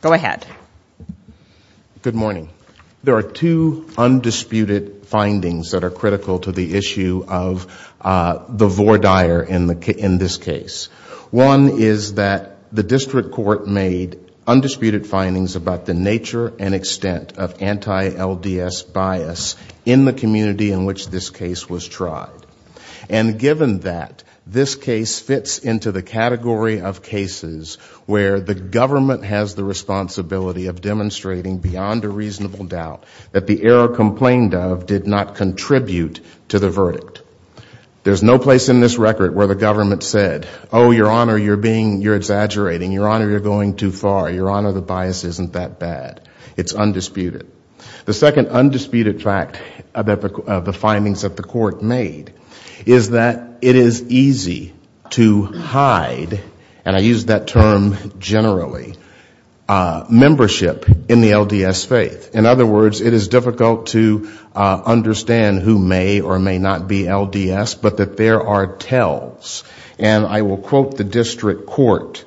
Go ahead. Good morning. There are two undisputed findings that are critical to the issue of the voir dire in this case. One is that the district court made undisputed findings about the nature and extent of anti-LDS bias in the community in which this case was tried. And given that, this case fits into the category of cases where the government has the responsibility of demonstrating beyond a reasonable doubt that the error complained of did not contribute to the verdict. There's no place in this record where the government said, oh your honor you're being, you're exaggerating, your honor you're going too far, your honor the bias isn't that bad. It's undisputed. The second undisputed fact of the findings that the court made is that it is easy to hide, and I use that term generally, membership in the LDS faith. In other words, it is difficult to understand who may or may not be LDS, but that there are tells. And I will quote the district court.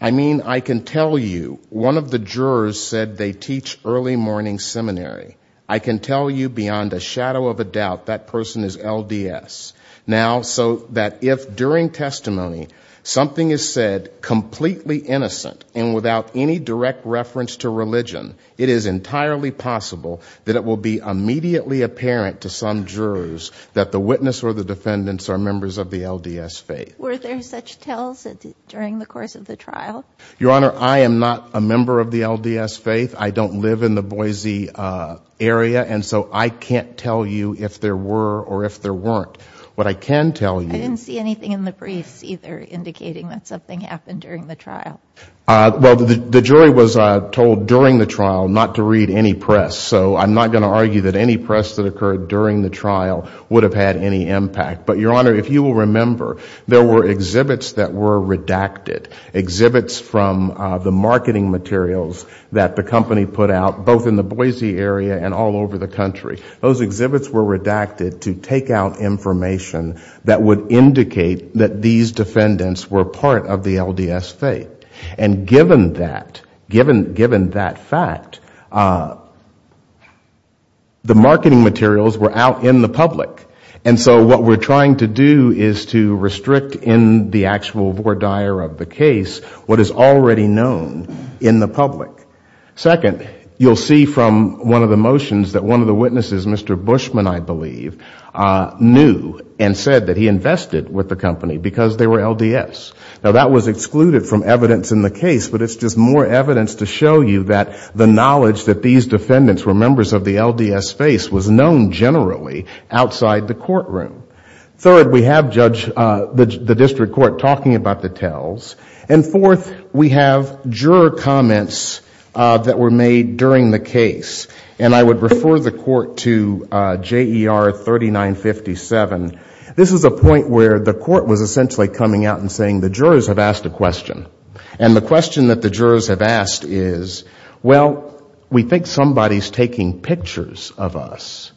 I mean I can tell you one of the jurors said they teach early morning seminary. I can tell you beyond a shadow of a doubt that person is LDS. Now, so that if during testimony something is said completely innocent and without any direct reference to religion, it is entirely possible that it will be immediately apparent to some jurors that the witness or the defendants are members of the LDS faith. Were there such tells during the course of the trial? Your honor, I am not a member of the LDS faith. I don't live in the Boise area, and so I can't tell you if there were or if there weren't. What I can tell you... I didn't see anything in the briefs either indicating that something happened during the trial. Well, the jury was told during the trial not to read any press, so I'm not going to argue that any press that occurred during the trial would have had any impact. But your honor, if you will remember, there were exhibits that were redacted. Exhibits from the company put out both in the Boise area and all over the country. Those exhibits were redacted to take out information that would indicate that these defendants were part of the LDS faith. And given that, given that fact, the marketing materials were out in the public. And so what we're trying to do is to restrict in the actual voir dire of the case what is already known in the public. Second, you'll see from one of the motions that one of the witnesses, Mr. Bushman, I believe, knew and said that he invested with the company because they were LDS. Now that was excluded from evidence in the case, but it's just more evidence to show you that the knowledge that these defendants were members of the LDS faith was known generally outside the courtroom. Third, we have Judge... the District Court talking about the tells. And fourth, we have juror comments that were made during the case. And I would refer the court to JER 3957. This is a point where the court was essentially coming out and saying the jurors have asked a question. And the question that the jurors have asked is, well, we think somebody's taking pictures of us.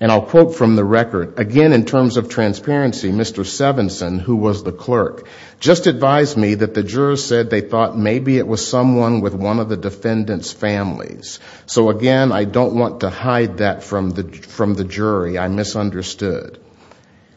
And I'll quote from the record. Again, in terms of transparency, Mr. Sevenson, who was the clerk, just advised me that the jurors said they thought maybe it was someone with one of the defendants' families. So again, I don't want to hide that from the jury. I misunderstood.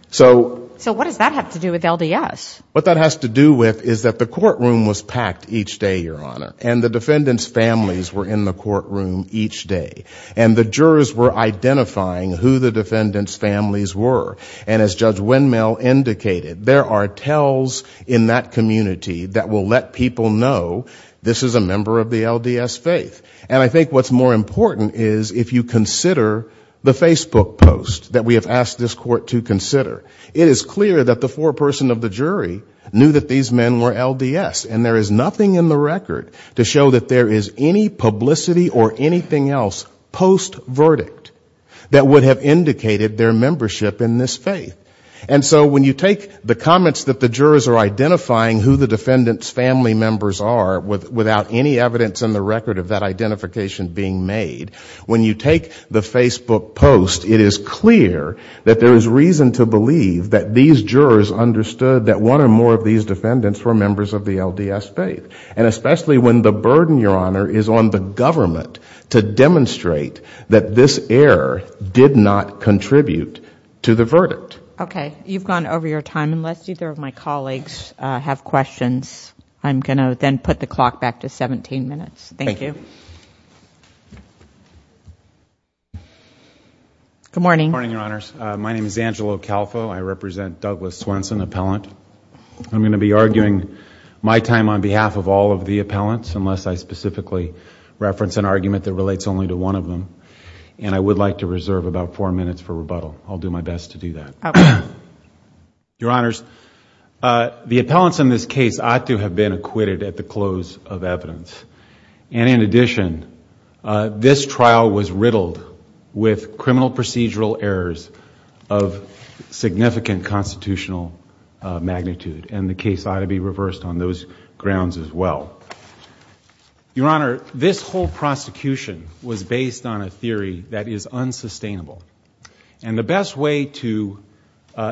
So... So what does that have to do with LDS? What that has to do with is that the courtroom was packed each day, Your Honor. And the defendants' families were in the courtroom each day. And the jurors were identifying who the defendants' families were. And as Judge that will let people know this is a member of the LDS faith. And I think what's more important is if you consider the Facebook post that we have asked this court to consider. It is clear that the foreperson of the jury knew that these men were LDS. And there is nothing in the record to show that there is any publicity or anything else post-verdict that would have indicated their membership in this faith. And so when you take the comments that the jurors are identifying who the defendants' family members are without any evidence in the record of that identification being made, when you take the Facebook post, it is clear that there is reason to believe that these jurors understood that one or more of these defendants were members of the LDS faith. And especially when the burden, Your Honor, is on the government to demonstrate that this error did not contribute to the verdict. Okay. You've gone over your time. Unless either of my colleagues have questions, I'm going to then put the clock back to 17 minutes. Thank you. Good morning, Your Honors. My name is Angelo Calfo. I represent Douglas Swenson, appellant. I'm going to be arguing my time on behalf of all of the appellants unless I specifically reference an argument that relates only to one of them. And I would like to reserve about four minutes for rebuttal. I'll do my best to do that. Okay. Your Honors, the appellants in this case ought to have been acquitted at the close of evidence. And in addition, this trial was riddled with criminal procedural errors of significant constitutional magnitude. And the case ought to be reversed on those grounds as well. Your Honor, this whole prosecution was based on a theory that is unsustainable. And the best way to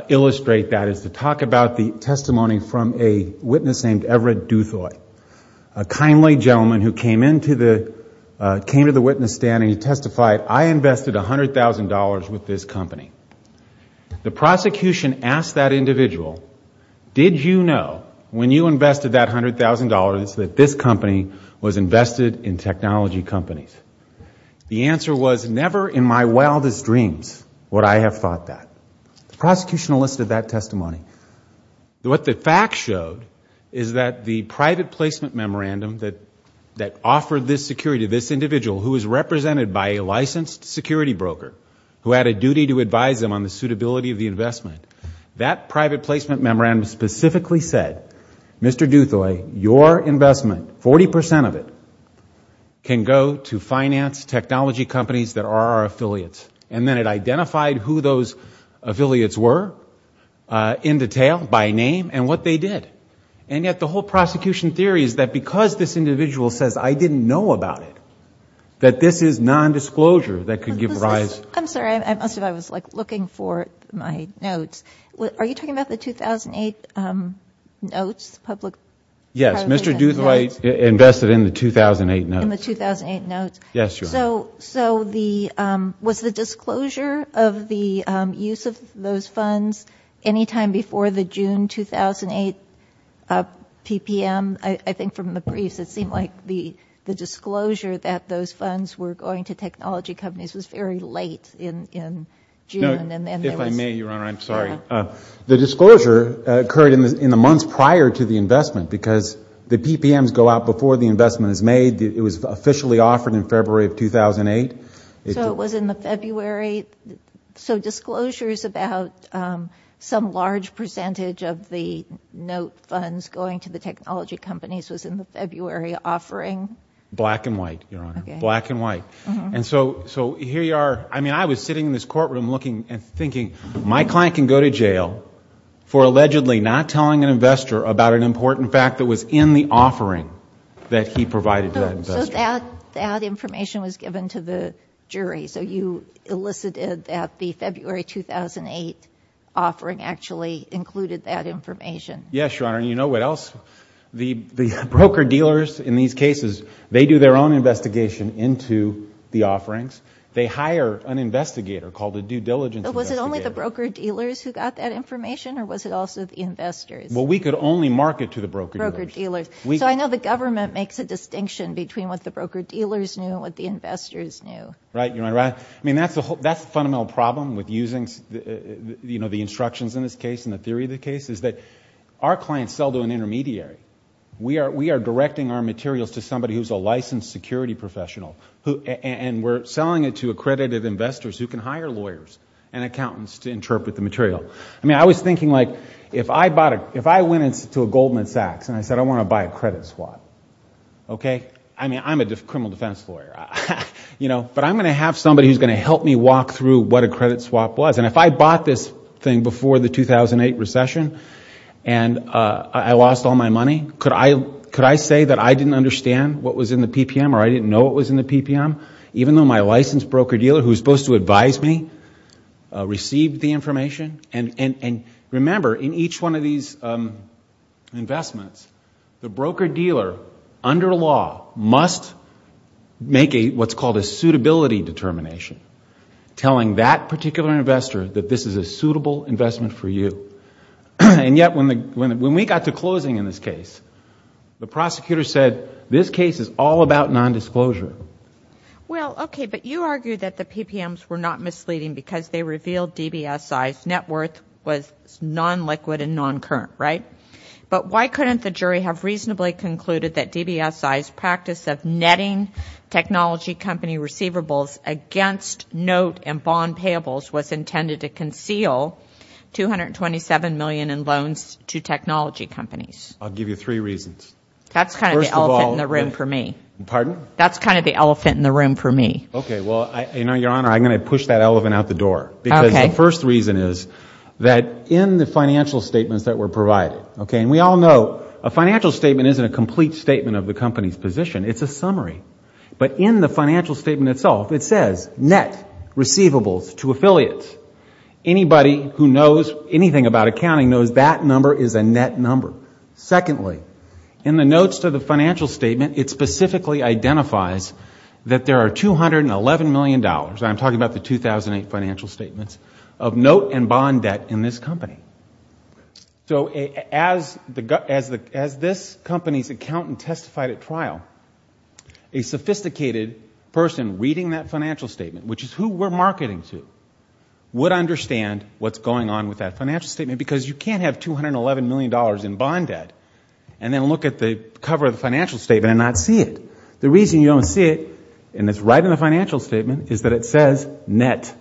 illustrate that is to talk about the testimony from a witness named Everett Duthoy, a kindly gentleman who came into the witness stand and he testified, I invested $100,000 with this company. The prosecution asked that individual, did you know when you invested that $100,000 that this company was invested in technology companies? The answer was never in my wildest dreams would I have thought that. The prosecution listed that testimony. What the facts showed is that the private placement memorandum that offered this security to this individual who is represented by a licensed security broker, who had a duty to advise them on the suitability of the to finance technology companies that are our affiliates. And then it identified who those affiliates were in detail by name and what they did. And yet the whole prosecution theory is that because this individual says I didn't know about it, that this is nondisclosure that could give rise. I'm sorry. I must have, I was like looking for my notes. Are you talking about the 2008 notes, public? Yes. Mr. Duthoy invested in the 2008 notes. Yes. So, so the, um, was the disclosure of the, um, use of those funds anytime before the June, 2008, uh, PPM? I think from the briefs, it seemed like the, the disclosure that those funds were going to technology companies was very late in, in June. And then if I may, your honor, I'm sorry. The disclosure occurred in the, in the months prior to the investment, because the PPMs go out before the investment is made. It was officially offered in February of 2008. So it was in the February. So disclosures about, um, some large percentage of the note funds going to the technology companies was in the February offering? Black and white, your honor, black and white. And so, so here you are. I mean, I was sitting in this courtroom looking and thinking my client can go to jail for allegedly not telling an in the offering that he provided to that investor. So that, that information was given to the jury. So you elicited that the February, 2008 offering actually included that information? Yes, your honor. And you know what else the, the broker dealers in these cases, they do their own investigation into the offerings. They hire an investigator called a due diligence investigator. Was it only the broker dealers who got that information or was it also the investors? Well, we could only market to the broker dealers. So I know the government makes a distinction between what the broker dealers knew and what the investors knew. Right, your honor. I mean, that's the whole, that's the fundamental problem with using the, you know, the instructions in this case and the theory of the case is that our clients sell to an intermediary. We are, we are directing our materials to somebody who's a licensed security professional who, and we're selling it to accredited investors who can hire lawyers and accountants to interpret the material. I mean, I was thinking like, if I bought it, if I went into a Goldman Sachs and I said, I want to buy a credit swap, okay. I mean, I'm a criminal defense lawyer, you know, but I'm going to have somebody who's going to help me walk through what a credit swap was. And if I bought this thing before the 2008 recession and I lost all my money, could I, could I say that I didn't understand what was in the PPM or I didn't know what was in the PPM, even though my licensed broker dealer who's supposed to advise me received the information and, and, and remember in each one of these investments, the broker dealer under law must make a, what's called a suitability determination, telling that particular investor that this is a suitable investment for you. And yet when the, when, when we got to closing in this case, the prosecutor said, this case is all about nondisclosure. Well, okay. But you argue that the PPMs were not misleading because they revealed DBSI's net worth was non-liquid and non-current, right? But why couldn't the jury have reasonably concluded that DBSI's practice of netting technology company receivables against note and bond payables was intended to conceal $227 million in loans to technology companies? I'll give you three reasons. That's kind of the elephant in the room for me. Pardon? That's kind of the elephant in the room for me. Okay. Well, I, you know, Your Honor, I'm going to push that elephant out the door. Because the first reason is that in the financial statements that were provided, okay, and we all know a financial statement isn't a complete statement of the company's position. It's a summary. But in the financial statement itself, it says net receivables to affiliates. Anybody who knows anything about accounting knows that number is a net number. Secondly, in the notes to the financial statement, it specifically identifies that there are $211 million, and I'm talking about the 2008 financial statements, of note and bond debt in this company. So as this company's accountant testified at trial, a sophisticated person reading that financial statement, which is who we're marketing to, would understand what's going on with that financial statement. Because you can't have $211 million in bond debt, and then look at the cover of the financial statement and not see it. The reason you don't see it, and it's right in the financial statement, is that it says net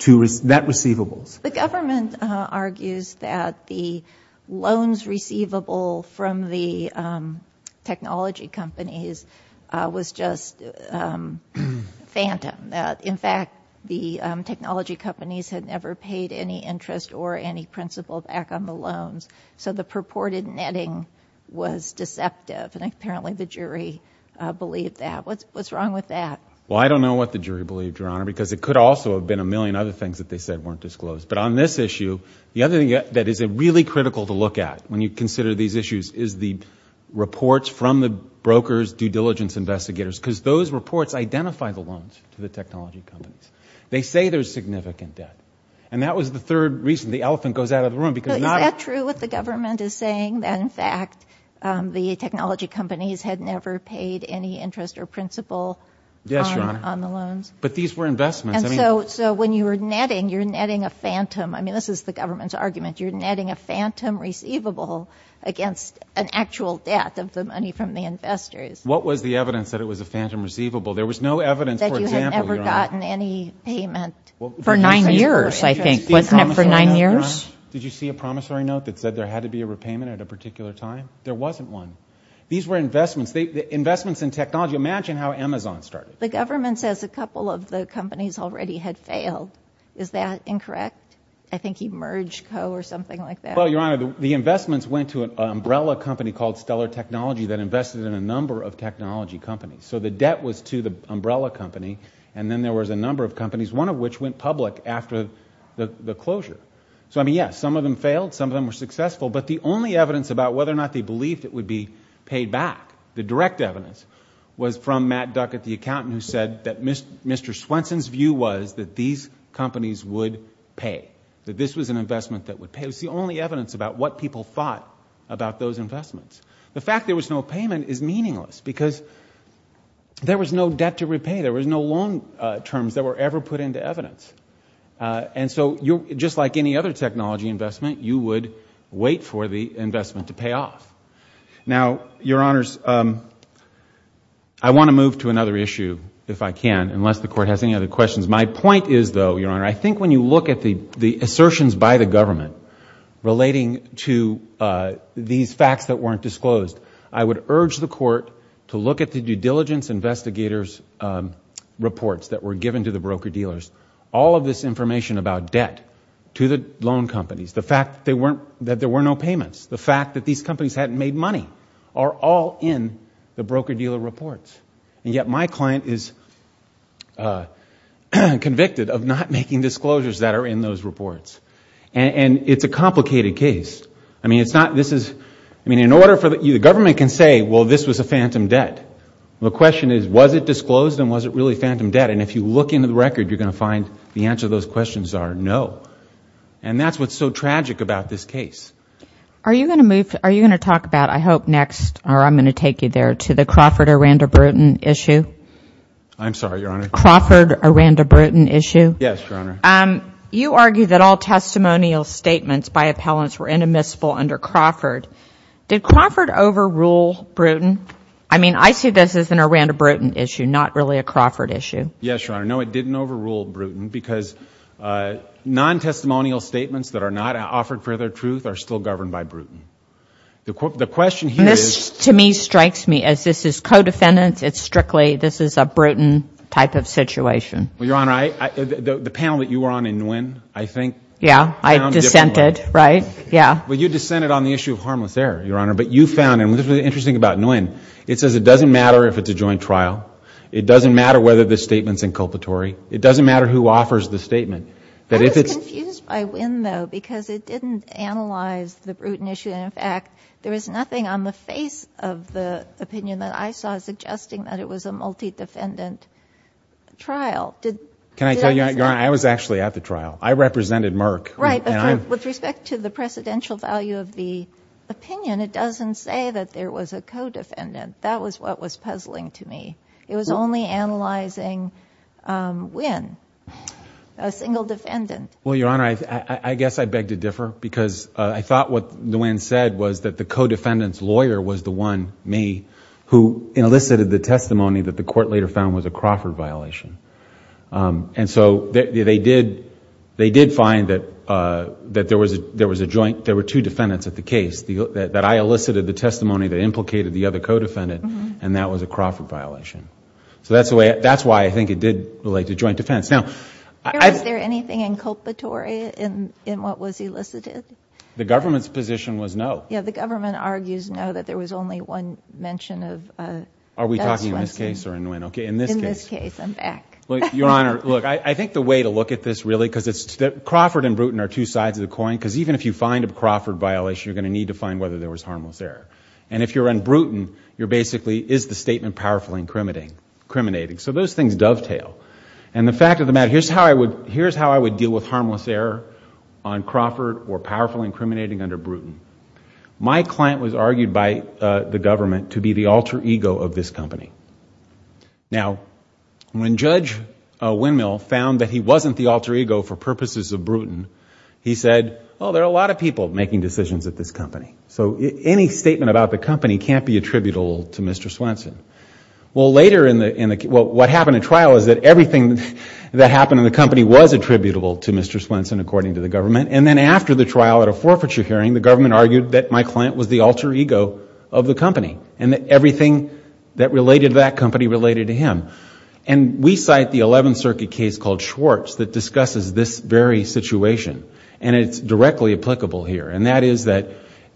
receivables. The government argues that the loans receivable from the technology companies was just phantom. In fact, the technology companies had never paid any interest or any principal back on the loans. So the purported netting was deceptive, and apparently the jury believed that. What's wrong with that? Well, I don't know what the jury believed, Your Honor, because it could also have been a million other things that they said weren't disclosed. But on this issue, the other thing that is really critical to look at when you consider these issues is the reports from the broker's due diligence investigators, because those reports identify the loans to the technology companies. They say there's significant debt. And that was the third reason the elephant goes out of the room. Is that true, what the government is saying, that in fact the technology companies had never paid any interest or principal on the loans? Yes, Your Honor, but these were investments. And so when you were netting, you're netting a phantom. I mean, this is the government's argument. You're netting a phantom receivable against an actual debt of the money from the investors. What was the evidence that it was a phantom receivable? There was no evidence, for example, Your Honor, for nine years, I think. Wasn't it for nine years? Did you see a promissory note that said there had to be a repayment at a particular time? There wasn't one. These were investments. Investments in technology. Imagine how Amazon started. The government says a couple of the companies already had failed. Is that incorrect? I think EmergeCo or something like that. Well, Your Honor, the investments went to an umbrella company called Stellar Technology that invested in a number of technology companies. So the debt was to the umbrella company, and then there was a number of companies, one of which went public after the closure. So, I mean, yes, some of them failed. Some of them were successful. But the only evidence about whether or not they believed it would be paid back, the direct evidence, was from Matt Duckett, the accountant, who said that Mr. Swenson's view was that these companies would pay, that this was an investment that would pay. It was the only evidence about what people thought about those investments. The fact there was no payment is meaningless because there was no debt to repay. There was no loan terms that were ever put into evidence. And so just like any other technology investment, you would wait for the investment to pay off. Now, Your Honors, I want to move to another issue, if I can, unless the Court has any other questions. My point is, though, Your Honor, I think when you look at the assertions by the I would urge the Court to look at the due diligence investigators' reports that were given to the broker-dealers. All of this information about debt to the loan companies, the fact that there were no payments, the fact that these companies hadn't made money, are all in the broker-dealer reports. And yet my client is convicted of not making disclosures that are in those reports. And it's a complicated case. I mean, the government can say, well, this was a phantom debt. The question is, was it disclosed and was it really phantom debt? And if you look into the record, you're going to find the answer to those questions are no. And that's what's so tragic about this case. Are you going to talk about, I hope, next, or I'm going to take you there, to the Crawford-Aranda-Bruton issue? I'm sorry, Your Honor. Crawford-Aranda-Bruton issue? Yes, Your Honor. You argue that all testimonial statements by appellants were inadmissible under Crawford. Did Crawford overrule Bruton? I mean, I see this as an Aranda-Bruton issue, not really a Crawford issue. Yes, Your Honor. No, it didn't overrule Bruton because non-testimonial statements that are not offered for their truth are still governed by Bruton. The question here is— And this, to me, strikes me as this is co-defendant. It's strictly, this is a Bruton type of situation. Well, Your Honor, the panel that you were on in Nguyen, I think— Yeah, I dissented, right? Yeah. Well, you dissented on the issue of harmless error, Your Honor. But you found, and this is what's interesting about Nguyen, it says it doesn't matter if it's a joint trial. It doesn't matter whether the statement's inculpatory. It doesn't matter who offers the statement. I was confused by Nguyen, though, because it didn't analyze the Bruton issue. And, in fact, there was nothing on the face of the opinion that I saw suggesting that it was a multi-defendant trial. Can I tell you, Your Honor, I was actually at the trial. I represented Merck. Right. With respect to the precedential value of the opinion, it doesn't say that there was a co-defendant. That was what was puzzling to me. It was only analyzing Nguyen, a single defendant. Well, Your Honor, I guess I beg to differ because I thought what Nguyen said was that the co-defendant's lawyer was the one, me, who elicited the testimony that the court later found was a Crawford violation. And so they did find that there were two defendants at the case that I elicited the testimony that implicated the other co-defendant, and that was a Crawford violation. So that's why I think it did relate to joint defense. Now... Your Honor, is there anything inculpatory in what was elicited? The government's position was no. The government argues no, that there was only one mention of... Are we talking in this case or in Nguyen? In this case, I'm back. Your Honor, look, I think the way to look at this really, because Crawford and Bruton are two sides of the coin, because even if you find a Crawford violation, you're going to need to find whether there was harmless error. And if you're on Bruton, you're basically, is the statement powerfully incriminating? So those things dovetail. And the fact of the matter, here's how I would deal with harmless error on Crawford or powerfully incriminating under Bruton. My client was argued by the government to be the alter ego of this company. Now, when Judge Windmill found that he wasn't the alter ego for purposes of Bruton, he said, well, there are a lot of people making decisions at this company. So any statement about the company can't be attributable to Mr. Swenson. Well, later in the... Well, what happened in trial is that everything that happened in the company was attributable to Mr. Swenson, according to the government. And then after the trial at a forfeiture hearing, the government argued that my client was the alter ego of the company. And that everything that related to that company related to him. And we cite the Eleventh Circuit case called Schwartz that discusses this very situation. And it's directly applicable here. And that is that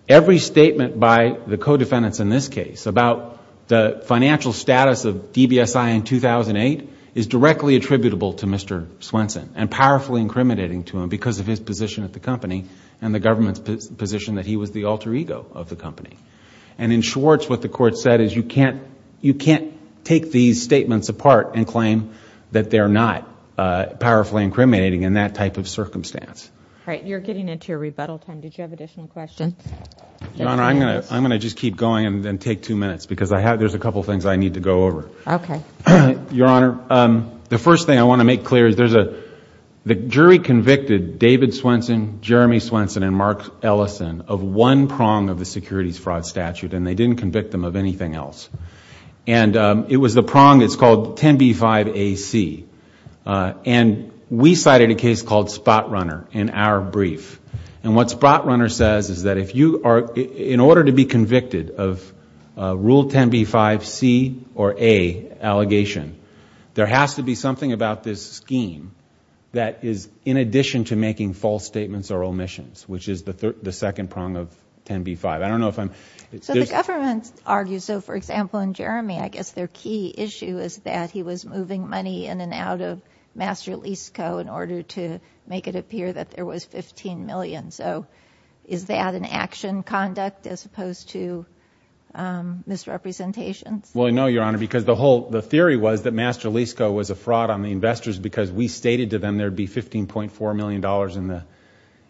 every statement by the co-defendants in this case about the financial status of DBSI in 2008 is directly attributable to Mr. Swenson. And powerfully incriminating to him because of his position at the company and the government's position that he was the alter ego of the company. And in Schwartz, what the court said is you can't take these statements apart and claim that they're not powerfully incriminating in that type of circumstance. All right. You're getting into your rebuttal time. Did you have additional questions? Your Honor, I'm going to just keep going and then take two minutes because there's a couple of things I need to go over. Okay. Your Honor, the first thing I want to make clear is there's a... David Swenson, Jeremy Swenson, and Mark Ellison of one prong of the securities fraud statute and they didn't convict them of anything else. And it was the prong that's called 10B5AC. And we cited a case called Spotrunner in our brief. And what Spotrunner says is that if you are... in order to be convicted of Rule 10B5C or A allegation, there has to be something about this scheme that is in addition to making false statements or omissions, which is the second prong of 10B5. I don't know if I'm... So the government argues, so for example, in Jeremy, I guess their key issue is that he was moving money in and out of Master Lease Co. in order to make it appear that there was $15 million. So is that an action conduct as opposed to misrepresentations? Well, no, Your Honor, because the whole... Master Lease Co. was a fraud on the investors because we stated to them there'd be $15.4 million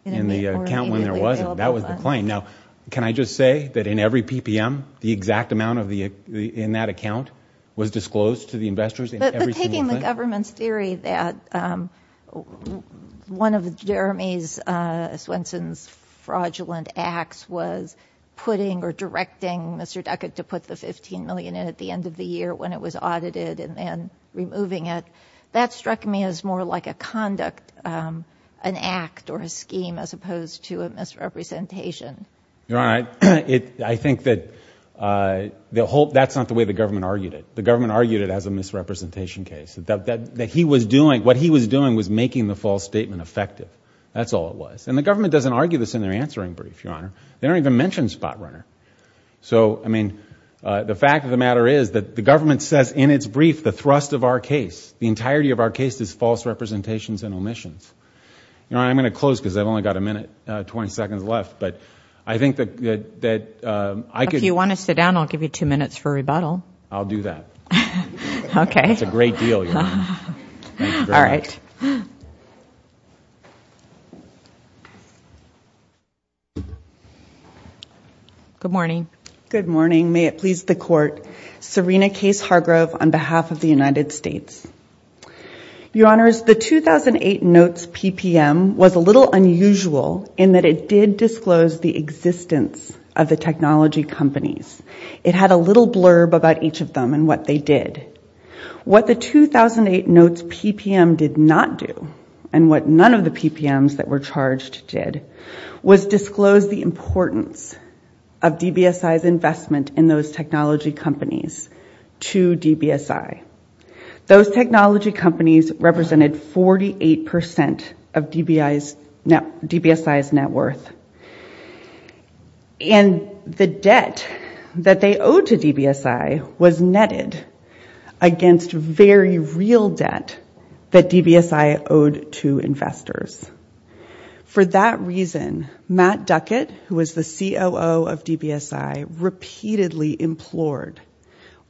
in the account when there wasn't. That was the claim. Now, can I just say that in every PPM, the exact amount in that account was disclosed to the investors in every single claim? But taking the government's theory that one of Jeremy Swenson's fraudulent acts was putting or directing Mr. Duckett to put the $15 million in at the end of the year when it was audited and then removing it, that struck me as more like a conduct, an act or a scheme as opposed to a misrepresentation. Your Honor, I think that the whole... that's not the way the government argued it. The government argued it as a misrepresentation case. What he was doing was making the false statement effective. That's all it was. And the government doesn't argue this in their answering brief, Your Honor. They don't even mention Spotrunner. So, I mean, the fact of the matter is that the government says in its brief the thrust of our case, the entirety of our case, is false representations and omissions. Your Honor, I'm going to close because I've only got a minute, 20 seconds left. But I think that I could... If you want to sit down, I'll give you two minutes for rebuttal. I'll do that. Okay. It's a great deal, Your Honor. All right. Good morning. Good morning. May it please the Court. Serena Case Hargrove on behalf of the United States. Your Honors, the 2008 notes PPM was a little unusual in that it did disclose the existence of the technology companies. It had a little blurb about each of them and what they did. What the 2008 notes PPM did not do and what none of the PPMs that were charged did was disclose the importance of DBSI's investment in those technology companies to DBSI. Those technology companies represented 48 percent of DBSI's net worth. And the debt that they owed to DBSI was netted against very real debt that DBSI owed to investors. For that reason, Matt Duckett, who was the COO of DBSI, repeatedly implored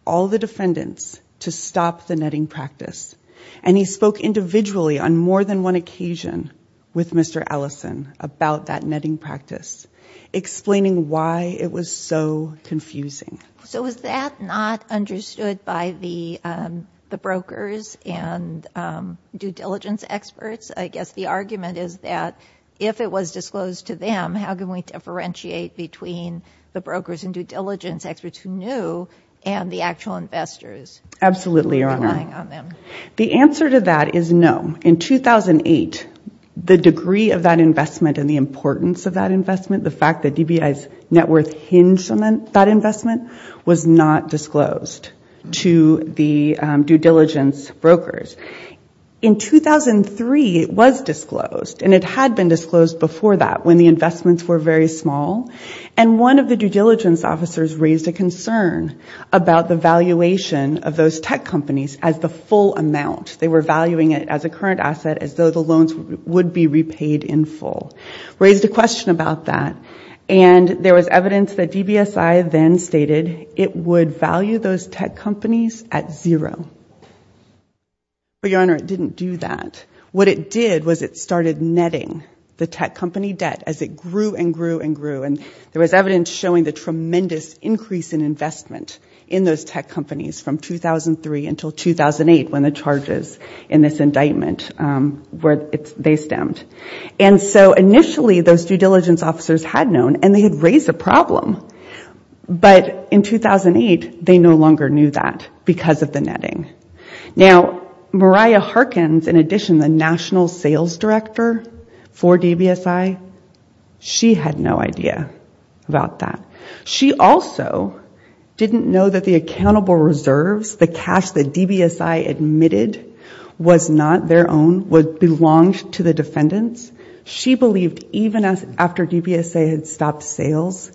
all the defendants to stop the netting practice. And he spoke individually on more than one occasion with Mr. Allison about that netting practice, explaining why it was so confusing. So was that not understood by the brokers and due diligence experts? I guess the argument is that if it was disclosed to them, how can we differentiate between the brokers and due diligence experts who knew and the actual investors relying on them? Absolutely, Your Honor. The answer to that is no. In 2008, the degree of that investment and the importance of that investment, the fact that DBSI's net worth hinged on that investment was not disclosed to the due diligence brokers. In 2003, it was disclosed and it had been disclosed before that when the investments were very small. And one of the due diligence officers raised a concern about the valuation of those tech companies as the full amount. They were valuing it as a current asset as though the loans would be repaid in full. Raised a question about that. And there was evidence that DBSI then stated it would value those tech companies at zero. But, Your Honor, it didn't do that. What it did was it started netting the tech company debt as it grew and grew and grew. And there was evidence showing the tremendous increase in investment in those tech companies from 2003 until 2008 when the charges in this indictment where they stemmed. And so initially, those due diligence officers had known and they had raised a problem. But in 2008, they no longer knew that because of the netting. Now, Mariah Harkins, in addition, the national sales director for DBSI, she had no idea about that. She also didn't know that the accountable reserves, the cash that DBSI admitted was not their own, belonged to the defendants. She believed even after DBSI had stopped sales,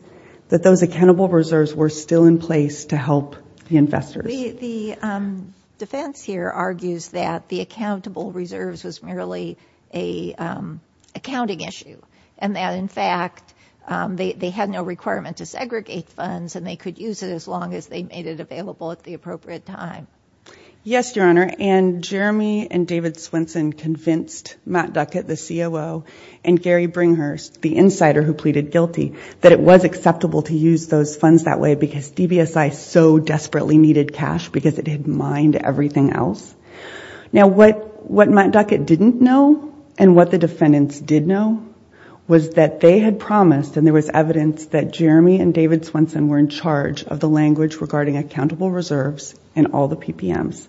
that those accountable reserves were still in place to help the investors. The defense here argues that the accountable reserves was merely an accounting issue. And that, in fact, they had no requirement to segregate funds and they could use it as long as they made it available at the appropriate time. Yes, Your Honor. And Jeremy and David Swenson convinced Matt Duckett, the COO, and Gary Bringhurst, the insider who pleaded guilty, that it was acceptable to use those funds that way because DBSI so desperately needed cash because it had mined everything else. Now, what Matt Duckett didn't know and what the defendants did know was that they had promised, and there was evidence that Jeremy and David Swenson were in charge of the language regarding accountable reserves and all the PPMs.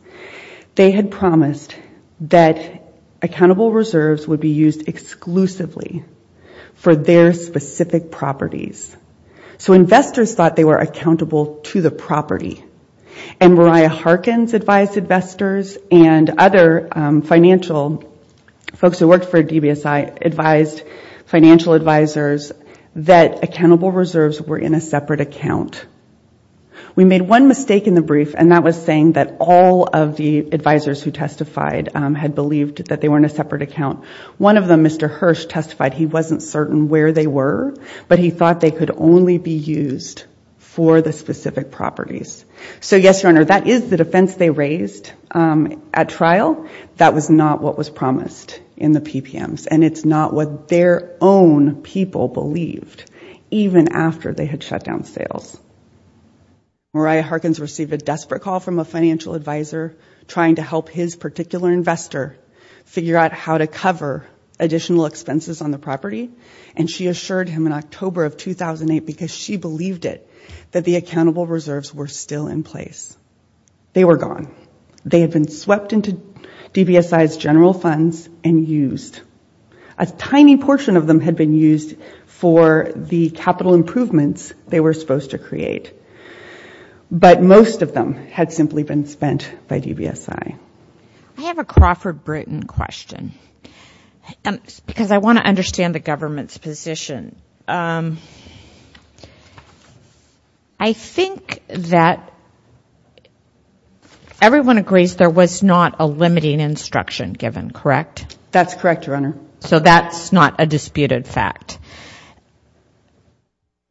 They had promised that accountable reserves would be used exclusively for their specific properties. So investors thought they were accountable to the property. And Mariah Harkins advised investors and other financial folks who worked for DBSI advised financial advisors that accountable reserves were in a separate account. We made one mistake in the brief, and that was saying that all of the advisors who testified had believed that they were in a separate account. One of them, Mr. Hirsch, testified he wasn't certain where they were, but he thought they could only be used for the specific properties. So yes, Your Honor, that is the defense they raised at trial. That was not what was promised in the PPMs, and it's not what their own people believed even after they had shut down sales. Mariah Harkins received a desperate call from a financial advisor trying to help his particular investor figure out how to cover additional expenses on the property, and she assured him in October of 2008 because she believed it, that the accountable reserves were still in place. They were gone. They had been swept into DBSI's general funds and used. A tiny portion of them had been used for the capital improvements they were supposed to create, but most of them had simply been spent by DBSI. I have a Crawford Britton question because I want to understand the government's position. Um, I think that everyone agrees there was not a limiting instruction given, correct? That's correct, Your Honor. So that's not a disputed fact.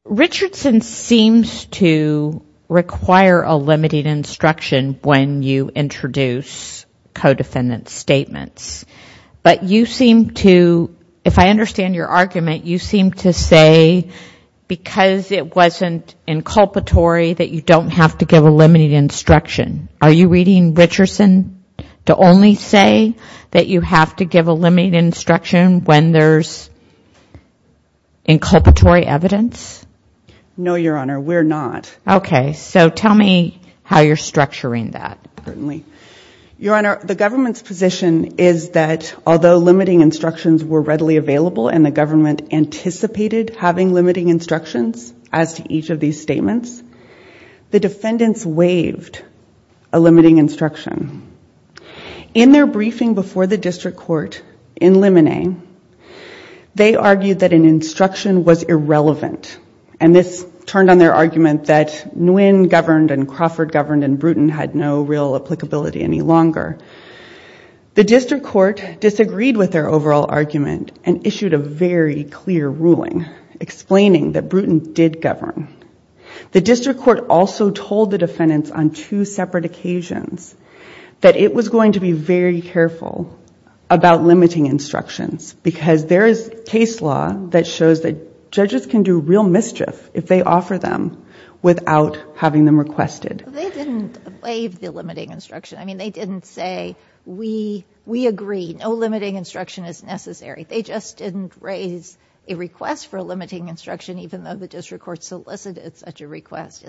Richardson seems to require a limiting instruction when you introduce co-defendant statements, but you seem to, if I understand your argument, you seem to say because it wasn't inculpatory that you don't have to give a limiting instruction. Are you reading Richardson to only say that you have to give a limiting instruction when there's inculpatory evidence? No, Your Honor, we're not. Okay, so tell me how you're structuring that. Certainly, Your Honor, the government's position is that although limiting instructions were readily available and the government anticipated having limiting instructions as to each of these statements, the defendants waived a limiting instruction. In their briefing before the district court in Lemonet, they argued that an instruction was irrelevant, and this turned on their argument that Nguyen governed and Crawford governed and Bruton had no real applicability any longer. The district court disagreed with their overall argument and issued a very clear ruling explaining that Bruton did govern. The district court also told the defendants on two separate occasions that it was going to be very careful about limiting instructions because there is case law that shows that judges can do real mischief if they offer them without having them requested. They didn't waive the limiting instruction. I mean, they didn't say, we agree, no limiting instruction is necessary. They just didn't raise a request for a limiting instruction, even though the district court solicited such a request.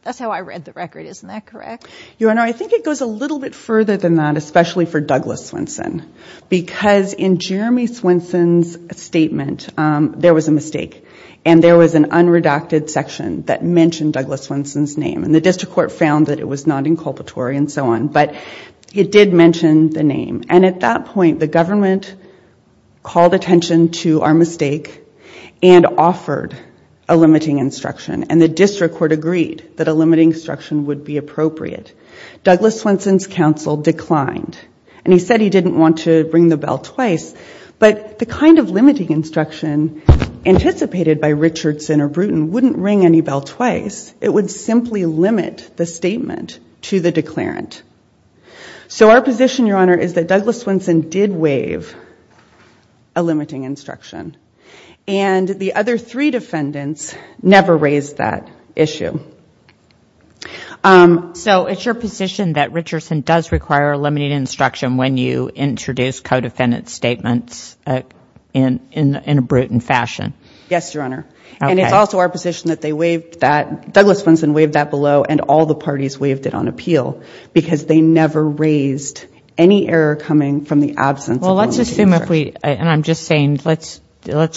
That's how I read the record. Isn't that correct? Your Honor, I think it goes a little bit further than that, especially for Douglas Swenson, because in Jeremy Swenson's statement, there was a mistake and there was an unredacted section that mentioned Douglas Swenson's name and the district court found that it was not inculpatory and so on, but it did mention the name. And at that point, the government called attention to our mistake and offered a limiting instruction and the district court agreed that a limiting instruction would be appropriate. Douglas Swenson's counsel declined and he said he didn't want to ring the bell twice, but the kind of limiting instruction anticipated by Richardson or Bruton wouldn't ring any bell twice. It would simply limit the statement to the declarant. So our position, Your Honor, is that Douglas Swenson did waive a limiting instruction and the other three defendants never raised that issue. So it's your position that Richardson does require a limiting instruction when you introduce co-defendant statements in a Bruton fashion? Yes, Your Honor. And it's also our position that they waived that, Douglas Swenson waived that below and all the parties waived it on appeal because they never raised any error coming from the absence of a limiting instruction. Well, let's assume if we, and I'm just saying, let's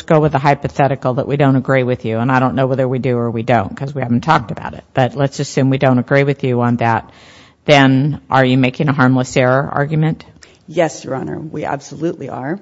go with a hypothetical that we don't agree with you and I don't know whether we do or we don't because we haven't talked about it, but let's assume we don't agree with you on that. Then are you making a harmless error argument? Yes, Your Honor. We absolutely are.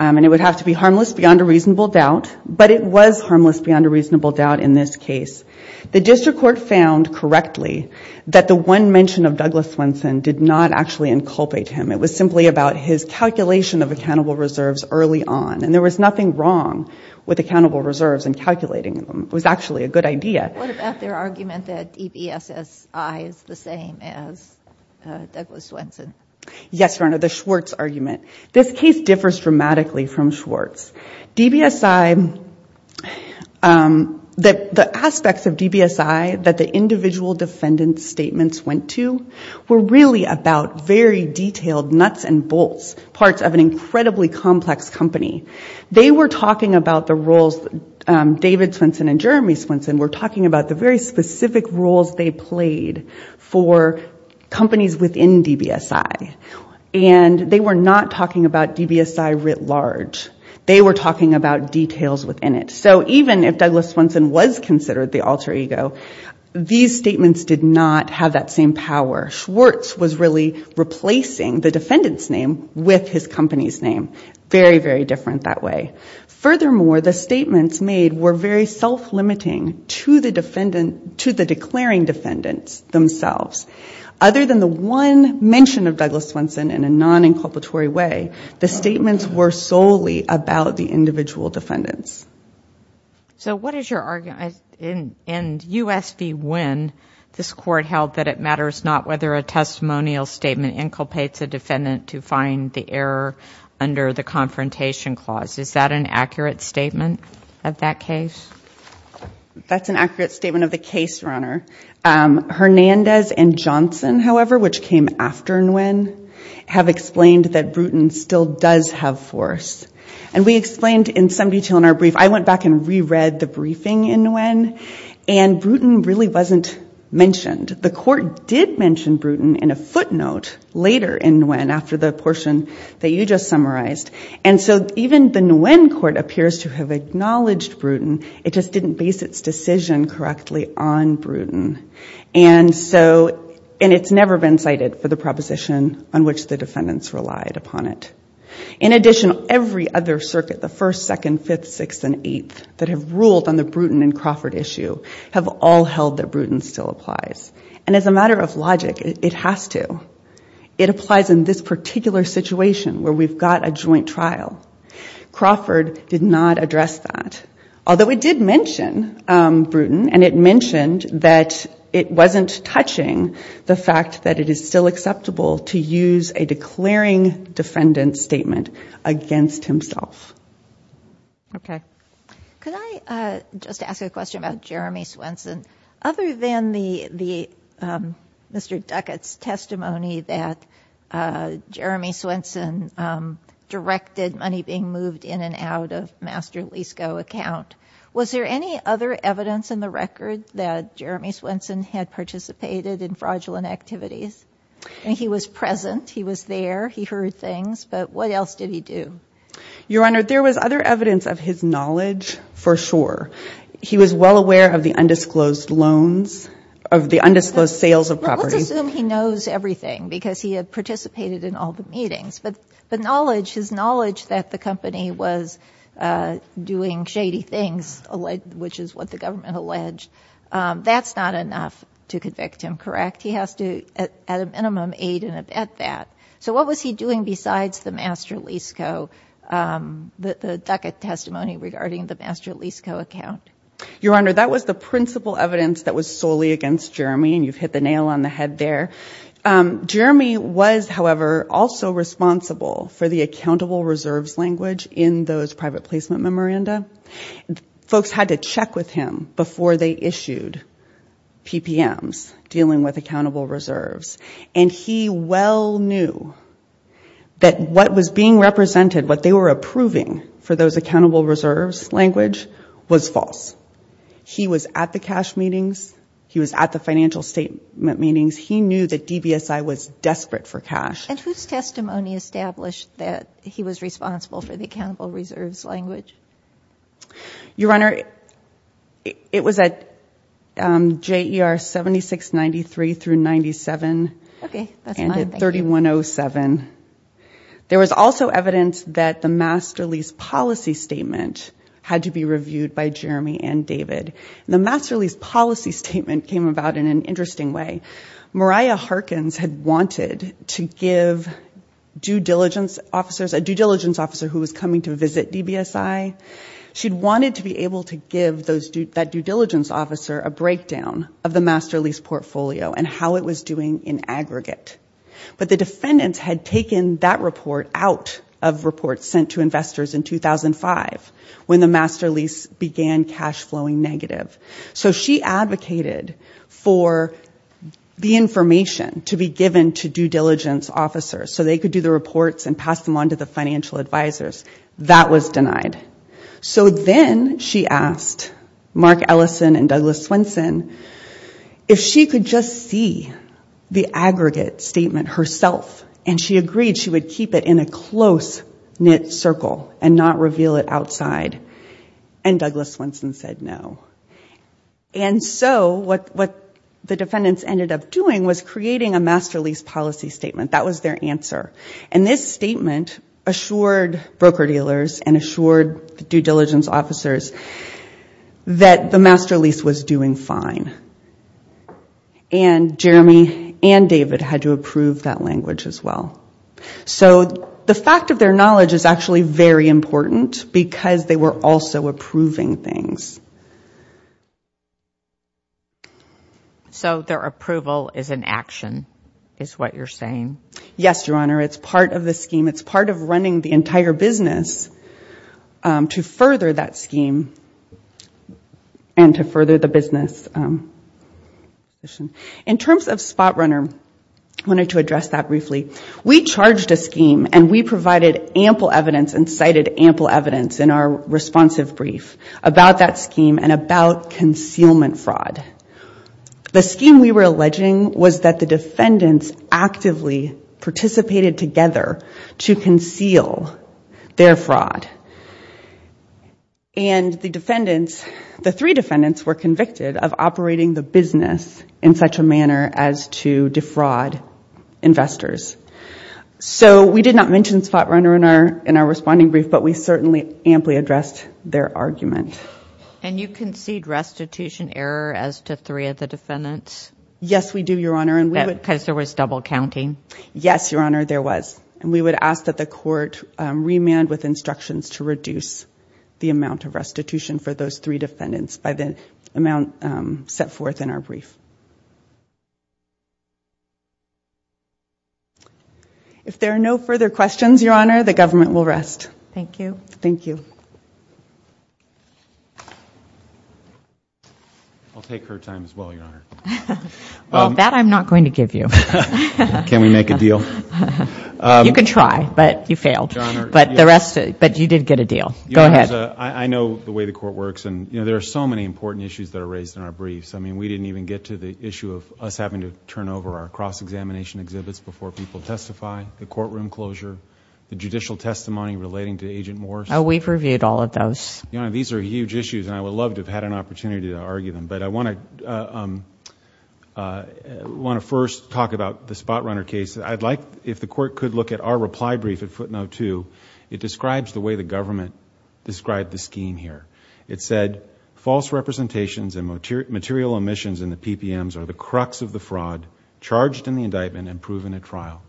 And it would have to be harmless beyond a reasonable doubt, but it was harmless beyond a reasonable doubt in this case. The district court found correctly that the one mention of Douglas Swenson did not actually inculpate him. It was simply about his calculation of accountable reserves early on. And there was nothing wrong with accountable reserves and calculating them. It was actually a good idea. What about their argument that EBSSI is the same as Douglas Swenson? Yes, Your Honor, the Schwartz argument. This case differs dramatically from Schwartz. DBSI, the aspects of DBSI that the individual defendant's statements went to were really about very detailed nuts and bolts, parts of an incredibly complex company. They were talking about the roles, David Swenson and Jeremy Swenson were talking about the very specific roles they played for companies within DBSI. And they were not talking about DBSI writ large. They were talking about details within it. So even if Douglas Swenson was considered the alter ego, these statements did not have that same power. Schwartz was really replacing the defendant's name with his company's name. Very, very different that way. Furthermore, the statements made were very self-limiting to the declaring defendants themselves. Other than the one mention of Douglas Swenson in a non-inculpatory way, the statements were solely about the individual defendants. So what is your argument in U.S. v. Wynne, this Court held that it matters not whether a testimonial statement inculpates a defendant to find the error under the confrontation clause. Is that an accurate statement of that case? That's an accurate statement of the case, Your Honor. Hernandez and Johnson, however, which came after Nguyen, have explained that Bruton still does have force. And we explained in some detail in our brief. I went back and reread the briefing in Nguyen, and Bruton really wasn't mentioned. The Court did mention Bruton in a footnote later in Nguyen after the portion that you just summarized. And so even the Nguyen Court appears to have acknowledged Bruton. It just didn't base its decision correctly on Bruton. And so, and it's never been cited for the proposition on which the defendants relied upon it. In addition, every other circuit, the First, Second, Fifth, Sixth, and Eighth that have ruled on the Bruton and Crawford issue have all held that Bruton still applies. And as a matter of logic, it has to. It applies in this particular situation where we've got a joint trial. Crawford did not address that. Although it did mention Bruton, and it mentioned that it wasn't touching the fact that it is still acceptable to use a declaring defendant statement against himself. Okay. Could I just ask a question about Jeremy Swenson? Other than Mr. Duckett's testimony that Jeremy Swenson directed money being moved in and out of Master Lease Go account, was there any other evidence in the record that Jeremy Swenson had participated in fraudulent activities? And he was present. He was there. He heard things. But what else did he do? Your Honor, there was other evidence of his knowledge for sure. He was well aware of the undisclosed loans, of the undisclosed sales of property. Let's assume he knows everything because he had participated in all the meetings. His knowledge that the company was doing shady things, which is what the government alleged, that's not enough to convict him, correct? He has to, at a minimum, aid and abet that. So what was he doing besides the Master Lease Go, the Duckett testimony regarding the Master Lease Go account? Your Honor, that was the principal evidence that was solely against Jeremy, and you've hit the nail on the head there. Jeremy was, however, also responsible for the accountable reserves language in those private placement memoranda. Folks had to check with him before they issued PPMs, dealing with accountable reserves. And he well knew that what was being represented, what they were approving for those accountable reserves language, was false. He was at the cash meetings. He was at the financial statement meetings. He knew that DBSI was desperate for cash. And whose testimony established that he was responsible for the accountable reserves language? Your Honor, it was at JER 7693 through 97 and at 3107. There was also evidence that the Master Lease policy statement had to be reviewed by Jeremy and David. The Master Lease policy statement came about in an interesting way. Mariah Harkins had wanted to give due diligence officers, a due diligence officer who was coming to visit DBSI, she'd wanted to be able to give that due diligence officer a breakdown of the Master Lease portfolio and how it was doing in aggregate. But the defendants had taken that report out of reports sent to investors in 2005 when the Master Lease began cash flowing negative. So she advocated for the information to be given to due diligence officers so they could do the reports and pass them on to the financial advisors. That was denied. So then she asked Mark Ellison and Douglas Swenson if she could just see the aggregate statement herself. And she agreed she would keep it in a close-knit circle and not reveal it outside. And Douglas Swenson said no. And so what the defendants ended up doing was creating a Master Lease policy statement. That was their answer. And this statement assured broker-dealers and assured due diligence officers that the Master Lease was doing fine. And Jeremy and David had to approve that language as well. So the fact of their knowledge is actually very important because they were also approving things. So their approval is an action is what you're saying? Yes, Your Honor. It's part of the scheme. It's part of running the entire business to further that scheme and to further the business. In terms of Spotrunner, I wanted to address that briefly. We charged a scheme and we provided ample evidence and cited ample evidence in our responsive brief about that scheme and about concealment fraud. The scheme we were alleging was that the defendants actively participated together to conceal their fraud. And the defendants, the three defendants, were convicted of operating the business in such a manner as to defraud investors. So we did not mention Spotrunner in our responding brief, but we certainly amply addressed their argument. And you concede restitution error as to three of the defendants? Yes, we do, Your Honor. And because there was double counting? Yes, Your Honor, there was. And we would ask that the court remand with instructions to reduce the amount of restitution for those three defendants by the amount set forth in our brief. If there are no further questions, Your Honor, the government will rest. Thank you. Thank you. I'll take her time as well, Your Honor. Well, that I'm not going to give you. Can we make a deal? You can try, but you failed. But the rest, but you did get a deal. Go ahead. I know the way the court works and, you know, there are so many important issues that are raised in our briefs. I mean, we didn't even get to the issue of us having to turn over our cross-examination exhibits before people testify, the courtroom closure, the judicial testimony relating to Agent Morris. We've reviewed all of those. These are huge issues and I would love to have had an opportunity to argue them. But I want to first talk about the Spotrunner case. I'd like if the court could look at our reply brief at footnote two. It describes the way the government described the scheme here. It said, false representations and material omissions in the PPMs are the crux of the fraud, charged in the indictment and proven at trial.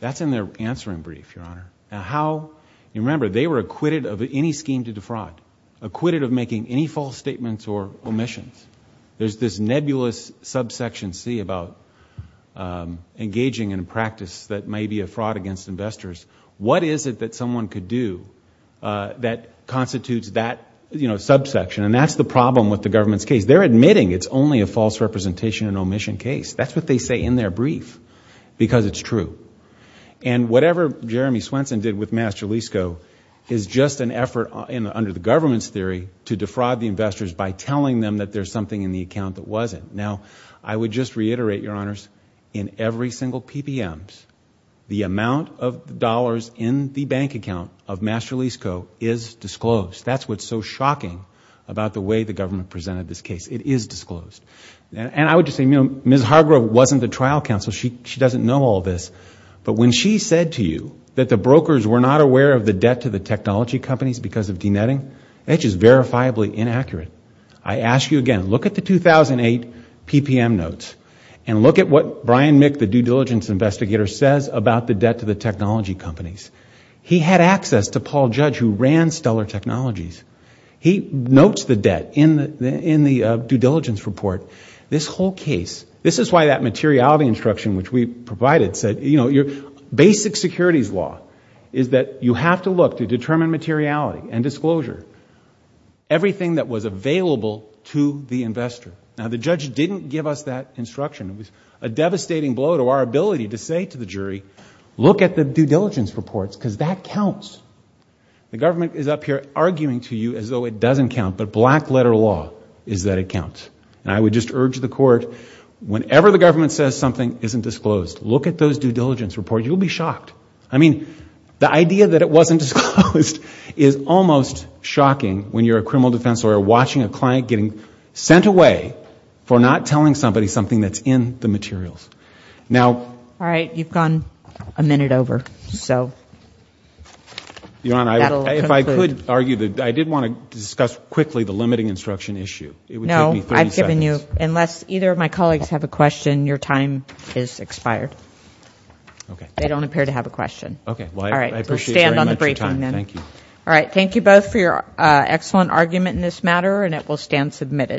That's in their answering brief, Your Honor. Now how, you remember, they were acquitted of any scheme to defraud, acquitted of making any false statements or omissions. There's this nebulous subsection C about engaging in a practice that may be a fraud against investors. What is it that someone could do that constitutes that, you know, subsection? And that's the problem with the government's case. They're admitting it's only a false representation and omission case. That's what they say in their brief because it's true. And whatever Jeremy Swenson did with MasterLeaseCo is just an effort under the government's theory to defraud the investors by telling them that there's something in the account that wasn't. Now, I would just reiterate, Your Honors, in every single PPMs, the amount of dollars in the bank account of MasterLeaseCo is disclosed. That's what's so shocking about the way the government presented this case. It is disclosed. And I would just say, you know, Ms. Hargrove wasn't the trial counsel. She doesn't know all this. But when she said to you that the brokers were not aware of the debt to the technology companies because of denetting, that's just verifiably inaccurate. I ask you again, look at the 2008 PPM notes and look at what Brian Mick, the due diligence investigator, says about the debt to the technology companies. He had access to Paul Judge who ran Stuller Technologies. He notes the debt in the due diligence report. This whole case, this is why that materiality instruction which we provided said, you know, your basic securities law is that you have to look to determine materiality and disclosure, everything that was available to the investor. Now, the judge didn't give us that instruction. It was a devastating blow to our ability to say to the jury, look at the due diligence reports because that counts. The government is up here arguing to you as though it doesn't count, but black letter law is that it counts. And I would just urge the court, whenever the government says something isn't disclosed, look at those due diligence reports. You'll be shocked. I mean, the idea that it wasn't disclosed is almost shocking when you're a criminal defense lawyer watching a client getting sent away for not telling somebody something that's in the materials. Now... All right. You've gone a minute over. So... Your Honor, if I could argue that I did want to discuss quickly the limiting instruction issue. No, I've given you... Unless either of my colleagues have a question, your time is expired. Okay. They don't appear to have a question. Well, I appreciate your time. All right. We'll stand on the briefing then. Thank you. All right. Thank you both for your excellent argument in this matter, and it will stand submitted.